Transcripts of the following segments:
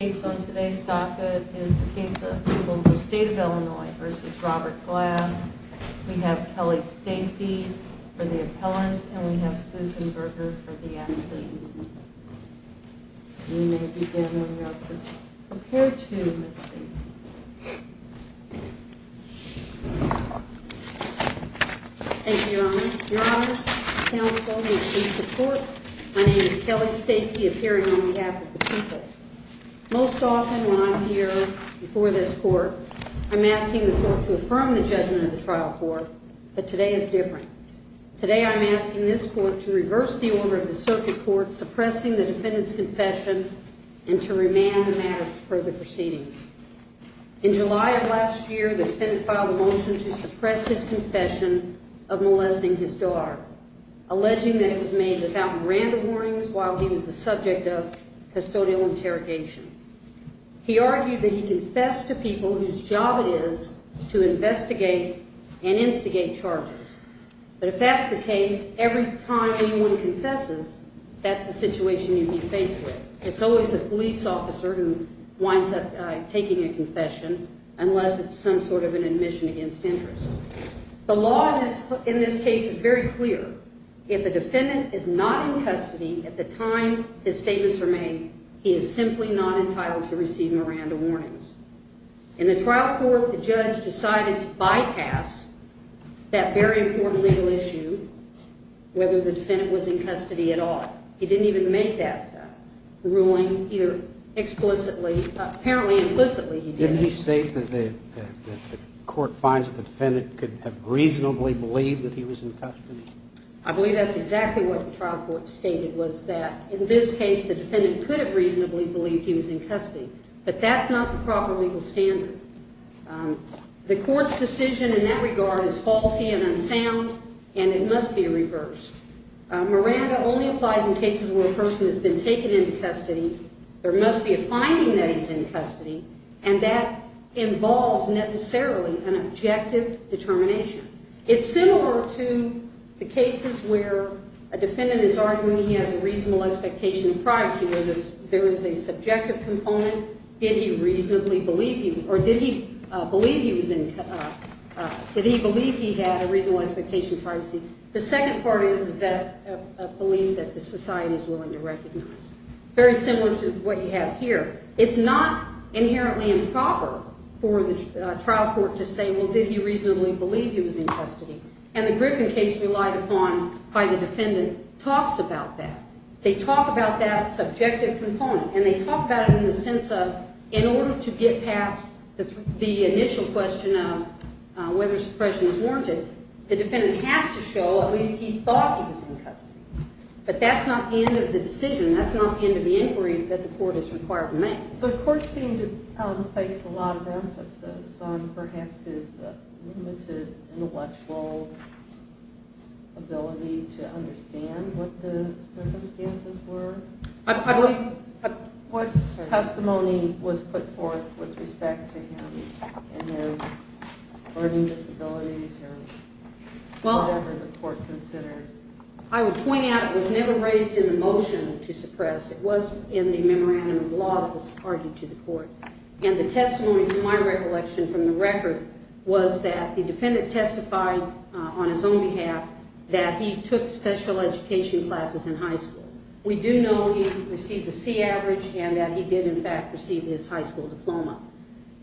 The case on today's docket is the case of Pueblo State of Illinois v. Robert Glass. We have Kelly Stacey for the appellant and we have Susan Berger for the athlete. You may begin on your approach. Prepare to, Ms. Stacey. Thank you, Your Honor. Your Honor's counsel is in support. My name is Kelly Stacey, appearing on behalf of the people. Most often when I'm here before this court, I'm asking the court to affirm the judgment of the trial court. But today is different. Today I'm asking this court to reverse the order of the circuit court suppressing the defendant's confession and to remand the matter for further proceedings. In July of last year, the defendant filed a motion to suppress his confession of molesting his daughter, alleging that it was made without random warnings while he was the subject of custodial interrogation. He argued that he confessed to people whose job it is to investigate and instigate charges. But if that's the case, every time anyone confesses, that's the situation you'd be faced with. It's always a police officer who winds up taking a confession unless it's some sort of an admission against interest. The law in this case is very clear. If a defendant is not in custody at the time his statements are made, he is simply not entitled to receive random warnings. In the trial court, the judge decided to bypass that very important legal issue, whether the defendant was in custody at all. He didn't even make that ruling, either explicitly or apparently implicitly. Didn't he state that the court finds that the defendant could have reasonably believed that he was in custody? I believe that's exactly what the trial court stated, was that in this case the defendant could have reasonably believed he was in custody. But that's not the proper legal standard. The court's decision in that regard is faulty and unsound, and it must be reversed. Miranda only applies in cases where a person has been taken into custody. There must be a finding that he's in custody, and that involves necessarily an objective determination. It's similar to the cases where a defendant is arguing he has a reasonable expectation of privacy, where there is a subjective component. Did he reasonably believe he was in custody? Did he believe he had a reasonable expectation of privacy? The second part is, is that belief that the society is willing to recognize. Very similar to what you have here. It's not inherently improper for the trial court to say, well, did he reasonably believe he was in custody? And the Griffin case relied upon by the defendant talks about that. They talk about that subjective component, and they talk about it in the sense of in order to get past the initial question of whether suppression is warranted, the defendant has to show at least he thought he was in custody. But that's not the end of the decision. That's not the end of the inquiry that the court is required to make. The court seemed to face a lot of emphasis on perhaps his limited intellectual ability to understand what the circumstances were. What testimony was put forth with respect to him and his learning disabilities or whatever the court considered? I would point out it was never raised in the motion to suppress. It was in the memorandum of law that was argued to the court. And the testimony to my recollection from the record was that the defendant testified on his own behalf that he took special education classes in high school. We do know he received a C average and that he did, in fact, receive his high school diploma.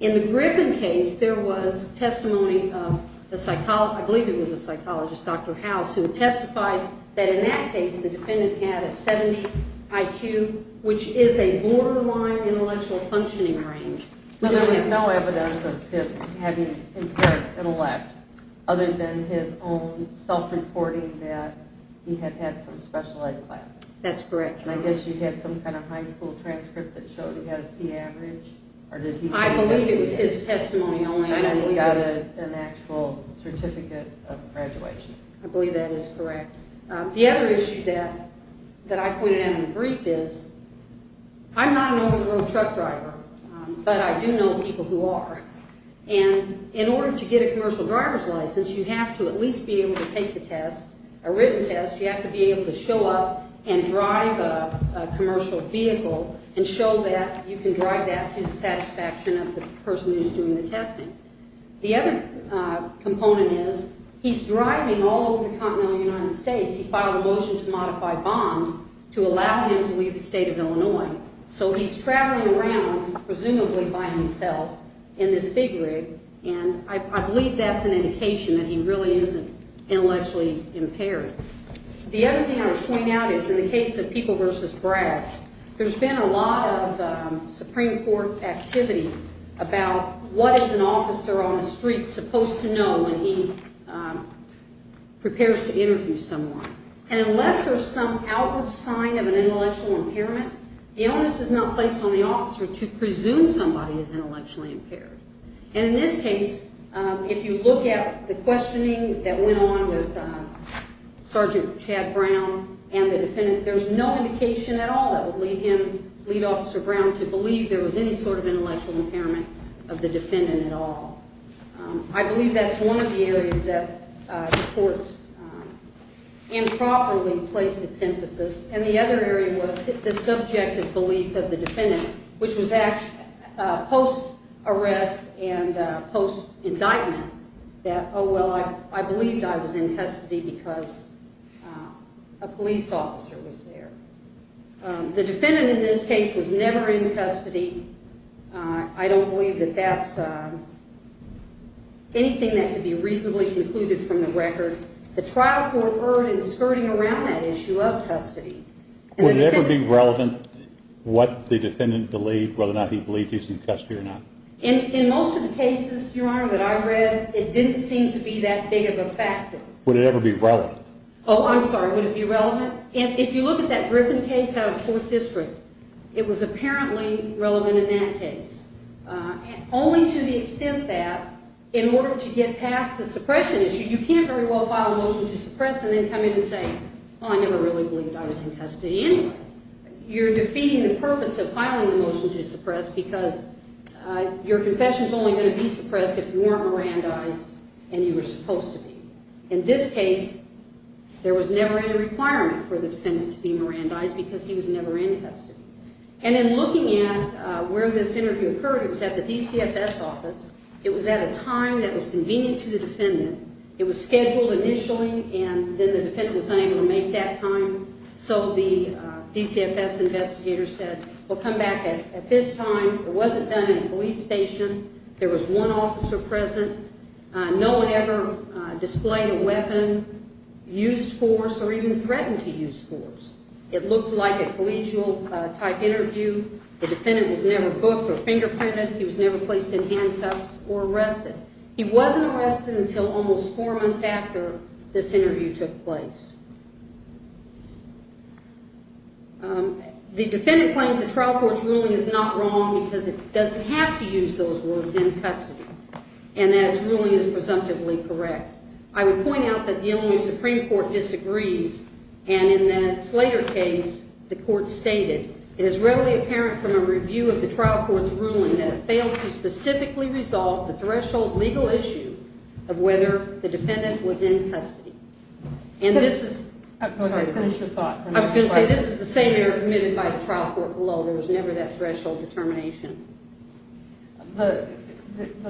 In the Griffin case, there was testimony of the psychologist, I believe it was a psychologist, Dr. House, who testified that in that case the defendant had a 70 IQ, which is a borderline intellectual functioning range. But there was no evidence of him having impaired intellect other than his own self-reporting that he had had some special ed classes. That's correct. And I guess you had some kind of high school transcript that showed he had a C average? I believe it was his testimony only. And he got an actual certificate of graduation. I believe that is correct. The other issue that I pointed out in the brief is I'm not an over-the-road truck driver, but I do know people who are. And in order to get a commercial driver's license, you have to at least be able to take the test, a written test. You have to be able to show up and drive a commercial vehicle and show that you can drive that to the satisfaction of the person who's doing the testing. The other component is he's driving all over the continental United States. He filed a motion to modify bond to allow him to leave the state of Illinois. So he's traveling around, presumably by himself, in this big rig, and I believe that's an indication that he really isn't intellectually impaired. The other thing I would point out is in the case of People v. Braggs, there's been a lot of Supreme Court activity about what is an officer on the street supposed to know when he prepares to interview someone. And unless there's some outward sign of an intellectual impairment, the onus is not placed on the officer to presume somebody is intellectually impaired. And in this case, if you look at the questioning that went on with Sergeant Chad Brown and the defendant, there's no indication at all that would lead him, lead Officer Brown, to believe there was any sort of intellectual impairment of the defendant at all. I believe that's one of the areas that the court improperly placed its emphasis. And the other area was the subjective belief of the defendant, which was post-arrest and post-indictment, that, oh, well, I believed I was in custody because a police officer was there. The defendant in this case was never in custody. I don't believe that that's anything that could be reasonably concluded from the record. The trial court erred in skirting around that issue of custody. Would it ever be relevant what the defendant believed, whether or not he believed he was in custody or not? In most of the cases, Your Honor, that I read, it didn't seem to be that big of a factor. Would it ever be relevant? Oh, I'm sorry. Would it be relevant? If you look at that Griffin case out of Fourth District, it was apparently relevant in that case, only to the extent that in order to get past the suppression issue, you can't very well file a motion to suppress and then come in and say, oh, I never really believed I was in custody anyway. You're defeating the purpose of filing the motion to suppress because your confession is only going to be suppressed if you weren't Mirandized and you were supposed to be. In this case, there was never any requirement for the defendant to be Mirandized because he was never in custody. And in looking at where this interview occurred, it was at the DCFS office. It was at a time that was convenient to the defendant. It was scheduled initially, and then the defendant was unable to make that time. So the DCFS investigator said, well, come back at this time. It wasn't done in a police station. There was one officer present. No one ever displayed a weapon, used force, or even threatened to use force. It looked like a collegial-type interview. The defendant was never booked or fingerprinted. He was never placed in handcuffs or arrested. He wasn't arrested until almost four months after this interview took place. The defendant claims the trial court's ruling is not wrong because it doesn't have to use those words, in custody, and that its ruling is presumptively correct. I would point out that the Illinois Supreme Court disagrees, and in the Slater case, the court stated, it is readily apparent from a review of the trial court's ruling that it failed to specifically resolve the threshold legal issue of whether the defendant was in custody. I'm sorry, finish your thought. I was going to say this is the same error committed by the trial court below. There was never that threshold determination. The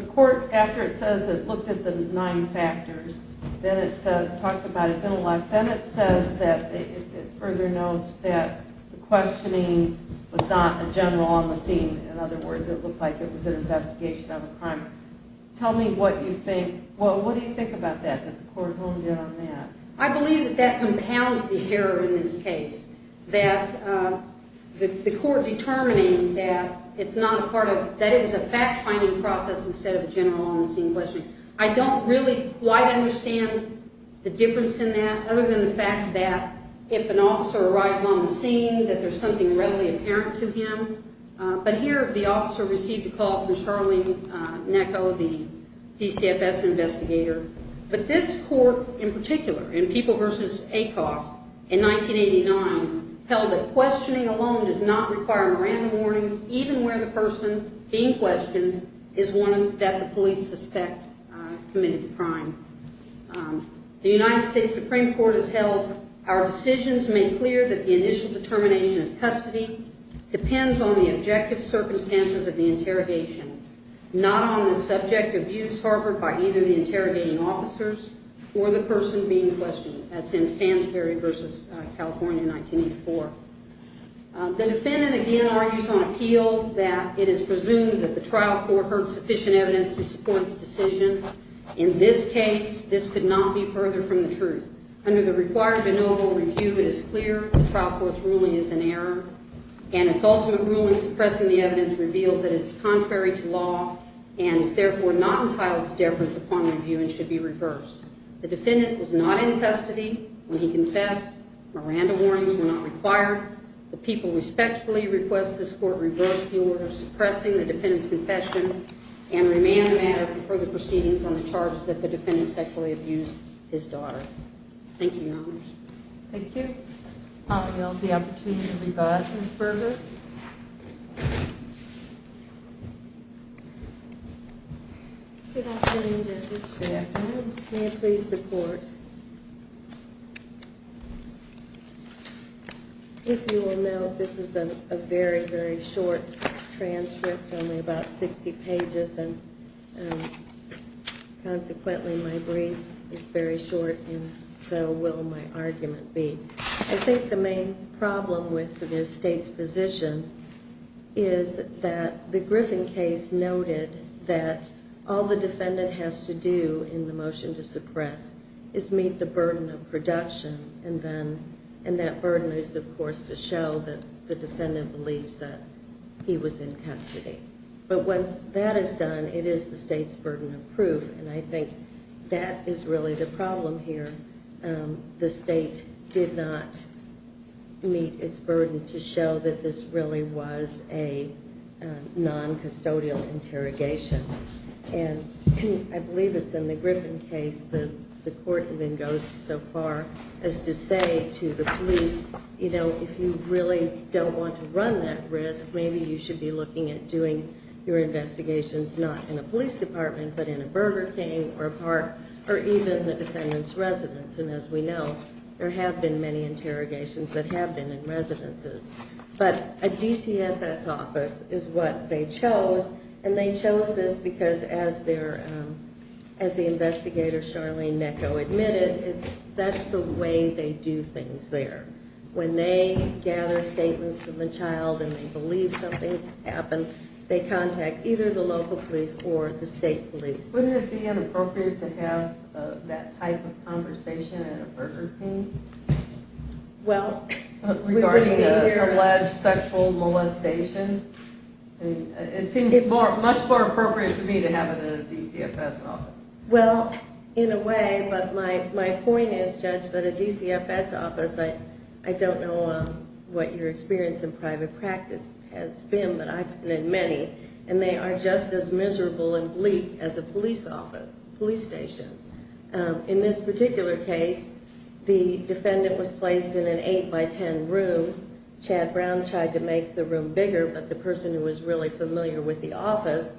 court, after it says it looked at the nine factors, then it talks about his intellect, then it says that it further notes that the questioning was not a general on the scene. In other words, it looked like it was an investigation of a crime. Tell me what you think. What do you think about that, that the court honed in on that? I believe that that compounds the error in this case, that the court determining that it was a fact-finding process instead of general on the scene questioning. I don't really quite understand the difference in that, other than the fact that if an officer arrives on the scene, that there's something readily apparent to him. But here, the officer received a call from Charlene Necco, the PCFS investigator. But this court, in particular, in People v. Acoff in 1989, held that questioning alone does not require memorandum warnings, even where the person being questioned is one that the police suspect committed the crime. The United States Supreme Court has held our decisions make clear that the initial determination of custody depends on the objective circumstances of the interrogation, not on the subject of views harbored by either the interrogating officers or the person being questioned. That's in Stansberry v. California in 1984. The defendant, again, argues on appeal that it is presumed that the trial court heard sufficient evidence to support its decision. In this case, this could not be further from the truth. Under the required de novo review, it is clear the trial court's ruling is in error, and its ultimate ruling suppressing the evidence reveals that it is contrary to law and is therefore not entitled to deference upon review and should be reversed. The defendant was not in custody when he confessed. Miranda warnings were not required. The people respectfully request this court reverse the order suppressing the defendant's confession and remand the matter for further proceedings on the charges that the defendant sexually abused his daughter. Thank you, Your Honors. Thank you. I'll yield the opportunity to rebut and further. Good afternoon, judges. Good afternoon. May it please the court. If you will note, this is a very, very short transcript, only about 60 pages, and consequently my brief is very short and so will my argument be. I think the main problem with this state's position is that the Griffin case noted that all the defendant has to do in the motion to suppress is meet the burden of production, and that burden is, of course, to show that the defendant believes that he was in custody. But once that is done, it is the state's burden of proof, and I think that is really the problem here. The state did not meet its burden to show that this really was a non-custodial interrogation. And I believe it's in the Griffin case that the court even goes so far as to say to the police, you know, if you really don't want to run that risk, maybe you should be looking at doing your investigations not in a police department, but in a Burger King or a park or even the defendant's residence. And as we know, there have been many interrogations that have been in residences. But a DCFS office is what they chose, and they chose this because as the investigator Charlene Necco admitted, that's the way they do things there. When they gather statements from a child and they believe something's happened, they contact either the local police or the state police. Wouldn't it be inappropriate to have that type of conversation at a Burger King? Regarding an alleged sexual molestation? It seems much more appropriate to me to have it in a DCFS office. Well, in a way, but my point is, Judge, that a DCFS office, I don't know what your experience in private practice has been, but I've been in many, and they are just as miserable and bleak as a police station. In this particular case, the defendant was placed in an 8x10 room. Chad Brown tried to make the room bigger, but the person who was really familiar with the office,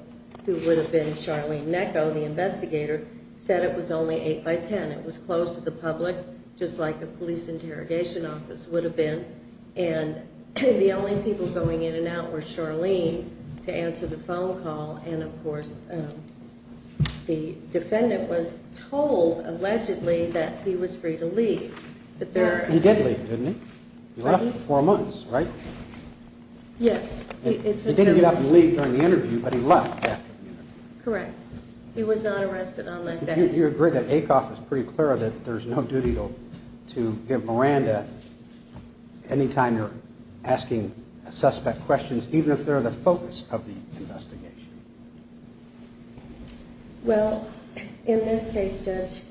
who would have been Charlene Necco, the investigator, said it was only 8x10. It was closed to the public, just like a police interrogation office would have been. And the only people going in and out were Charlene to answer the phone call, and, of course, the defendant was told, allegedly, that he was free to leave. He did leave, didn't he? He was off for four months, right? Yes. He didn't get up and leave during the interview, but he left after the interview. Correct. He was not arrested on that day. Do you agree that Acoff is pretty clear that there's no duty to give Miranda, any time you're asking a suspect questions, even if they're the focus of the investigation? Well, in this case, Judge,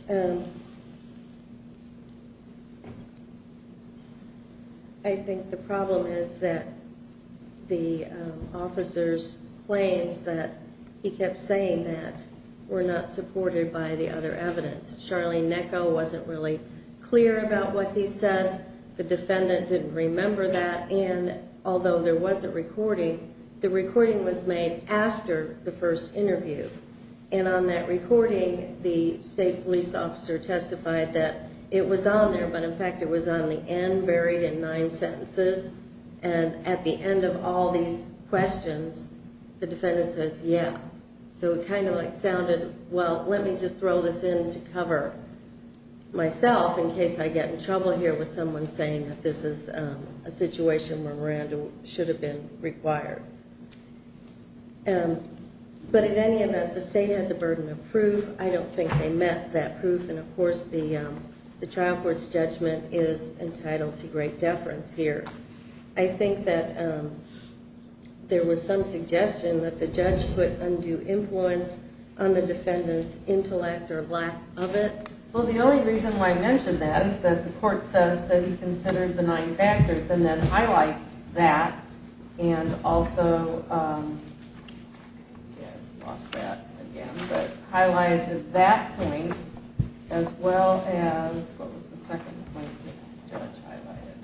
I think the problem is that the officer's claims that he kept saying that were not supported by the other evidence. Charlene Necco wasn't really clear about what he said. The defendant didn't remember that, and although there was a recording, the recording was made after the first interview. And on that recording, the state police officer testified that it was on there, but, in fact, it was on the end, buried in nine sentences. And at the end of all these questions, the defendant says, yeah. So it kind of sounded, well, let me just throw this in to cover myself in case I get in trouble here with someone saying that this is a situation where Miranda should have been required. But in any event, the state had the burden of proof. I don't think they met that proof. And, of course, the trial court's judgment is entitled to great deference here. I think that there was some suggestion that the judge put undue influence on the defendant's intellect or lack of it. Well, the only reason why I mention that is that the court says that he considered the nine factors and then highlights that and also highlighted that point as well as what was the second point the judge highlighted?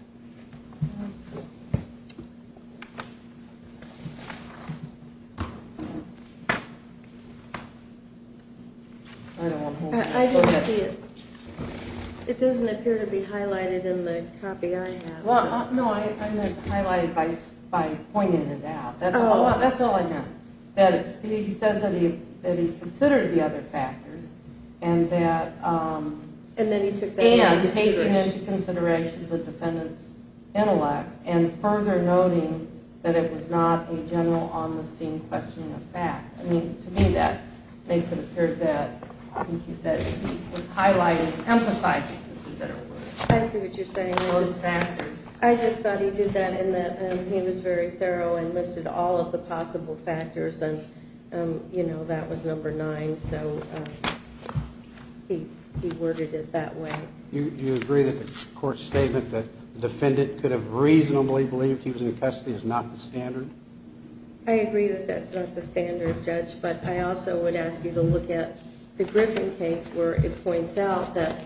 I didn't see it. It doesn't appear to be highlighted in the copy I have. No, I meant to highlight it by pointing it out. That's all I meant. He says that he considered the other factors and that he was taking into consideration the defendant's intellect and further noting that it was not a general on-the-scene question of fact. I mean, to me, that makes it appear that he was highlighting, emphasizing. I see what you're saying. I just thought he did that in that he was very thorough and listed all of the possible factors, and, you know, that was number nine, so he worded it that way. Do you agree that the court's statement that the defendant could have reasonably believed he was in custody is not the standard? I agree that that's not the standard, Judge, but I also would ask you to look at the Griffin case where it points out that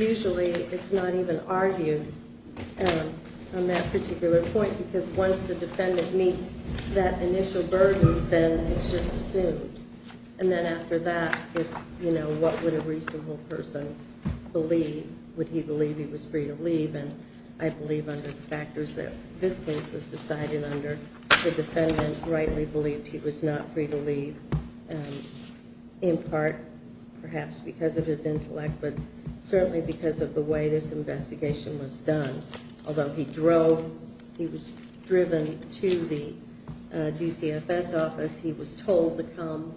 usually it's not even argued on that particular point because once the defendant meets that initial burden, then it's just assumed. And then after that, it's, you know, what would a reasonable person believe? Would he believe he was free to leave? And I believe under the factors that this case was decided under, the defendant rightly believed he was not free to leave, in part perhaps because of his intellect, but certainly because of the way this investigation was done. Although he drove, he was driven to the DCFS office. He was told to come,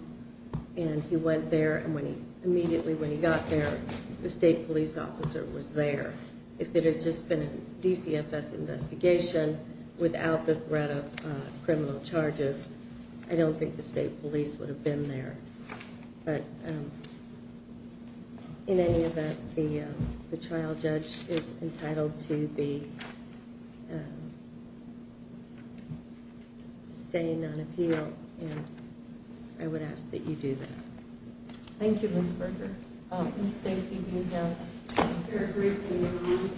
and he went there, and immediately when he got there, the state police officer was there. If it had just been a DCFS investigation without the threat of criminal charges, I don't think the state police would have been there. But in any event, the trial judge is entitled to be sustained on appeal, and I would ask that you do that. Thank you, Ms. Berger. Ms. Stacy, do you have a fair briefing?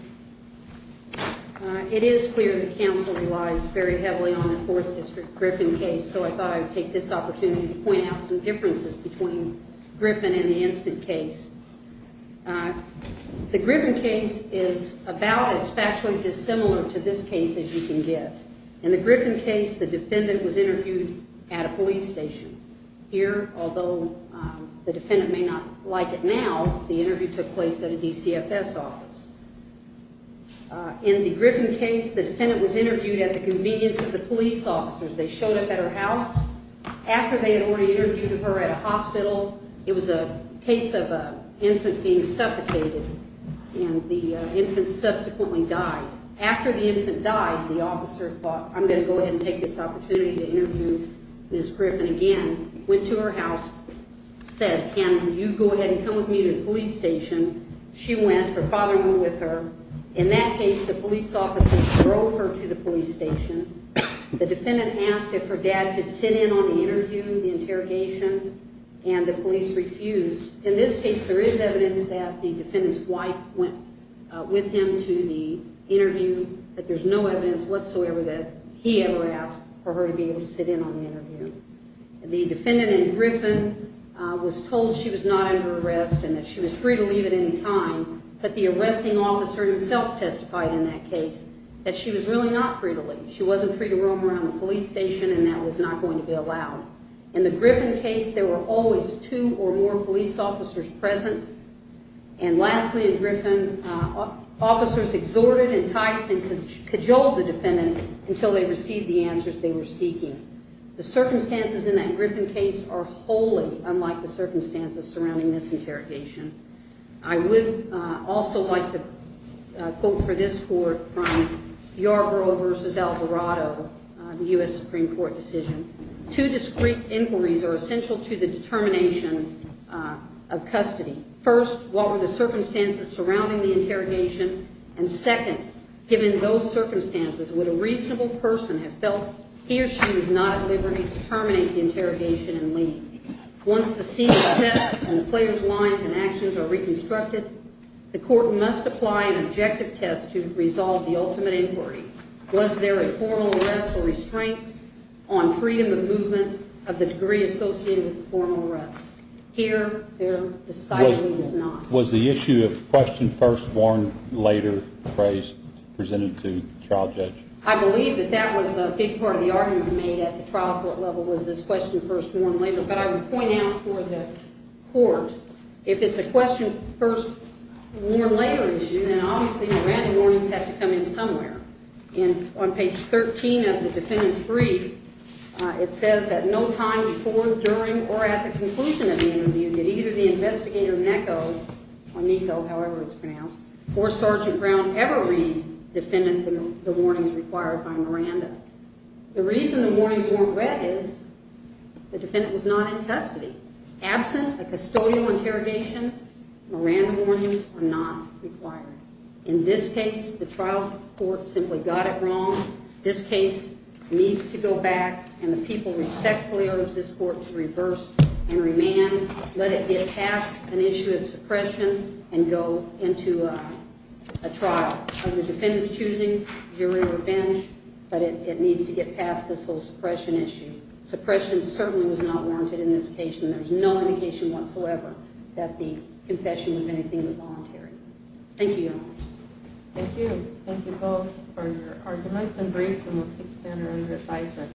It is clear that counsel relies very heavily on the Fourth District Griffin case, so I thought I would take this opportunity to point out some differences between Griffin and the instant case. The Griffin case is about as factually dissimilar to this case as you can get. In the Griffin case, the defendant was interviewed at a police station. Here, although the defendant may not like it now, the interview took place at a DCFS office. In the Griffin case, the defendant was interviewed at the convenience of the police officers. They showed up at her house. After they had already interviewed her at a hospital, it was a case of an infant being suffocated, and the infant subsequently died. After the infant died, the officer thought, I'm going to go ahead and take this opportunity to interview Ms. Griffin again, went to her house, said, can you go ahead and come with me to the police station? She went. Her father went with her. In that case, the police officers drove her to the police station. The defendant asked if her dad could sit in on the interview, the interrogation, and the police refused. In this case, there is evidence that the defendant's wife went with him to the interview, but there's no evidence whatsoever that he ever asked for her to be able to sit in on the interview. The defendant in Griffin was told she was not under arrest and that she was free to leave at any time, but the arresting officer himself testified in that case that she was really not free to leave. She wasn't free to roam around the police station, and that was not going to be allowed. In the Griffin case, there were always two or more police officers present, and lastly in Griffin, officers exhorted, enticed, and cajoled the defendant until they received the answers they were seeking. The circumstances in that Griffin case are wholly unlike the circumstances surrounding this interrogation. I would also like to quote for this court from Yarbrough v. Alvarado, the U.S. Supreme Court decision. Two discreet inquiries are essential to the determination of custody. First, what were the circumstances surrounding the interrogation, and second, given those circumstances, would a reasonable person have felt he or she was not at liberty to terminate the interrogation and leave? Once the scene is set and the player's lines and actions are reconstructed, the court must apply an objective test to resolve the ultimate inquiry. Was there a formal arrest or restraint on freedom of movement of the degree associated with the formal arrest? Here, there decidedly was not. Was the issue of question first, warn later phrase presented to trial judge? I believe that that was a big part of the argument made at the trial court level was this question first, warn later. But I would point out for the court, if it's a question first, warn later issue, then obviously the random warnings have to come in somewhere. And on page 13 of the defendant's brief, it says that no time before, during, or at the conclusion of the interview did either the investigator Neko, or Niko, however it's pronounced, or Sergeant Brown ever read defendant the warnings required by Miranda. The reason the warnings weren't read is the defendant was not in custody. Absent a custodial interrogation, Miranda warnings are not required. In this case, the trial court simply got it wrong. This case needs to go back, and the people respectfully urge this court to reverse and remand, let it get past an issue of suppression, and go into a trial of the defendant's choosing, jury or bench. But it needs to get past this whole suppression issue. Suppression certainly was not warranted in this case, and there's no indication whatsoever that the confession was anything but voluntary. Thank you, Your Honors. Thank you. Thank you both for your arguments and briefs, and we'll take them under revisement.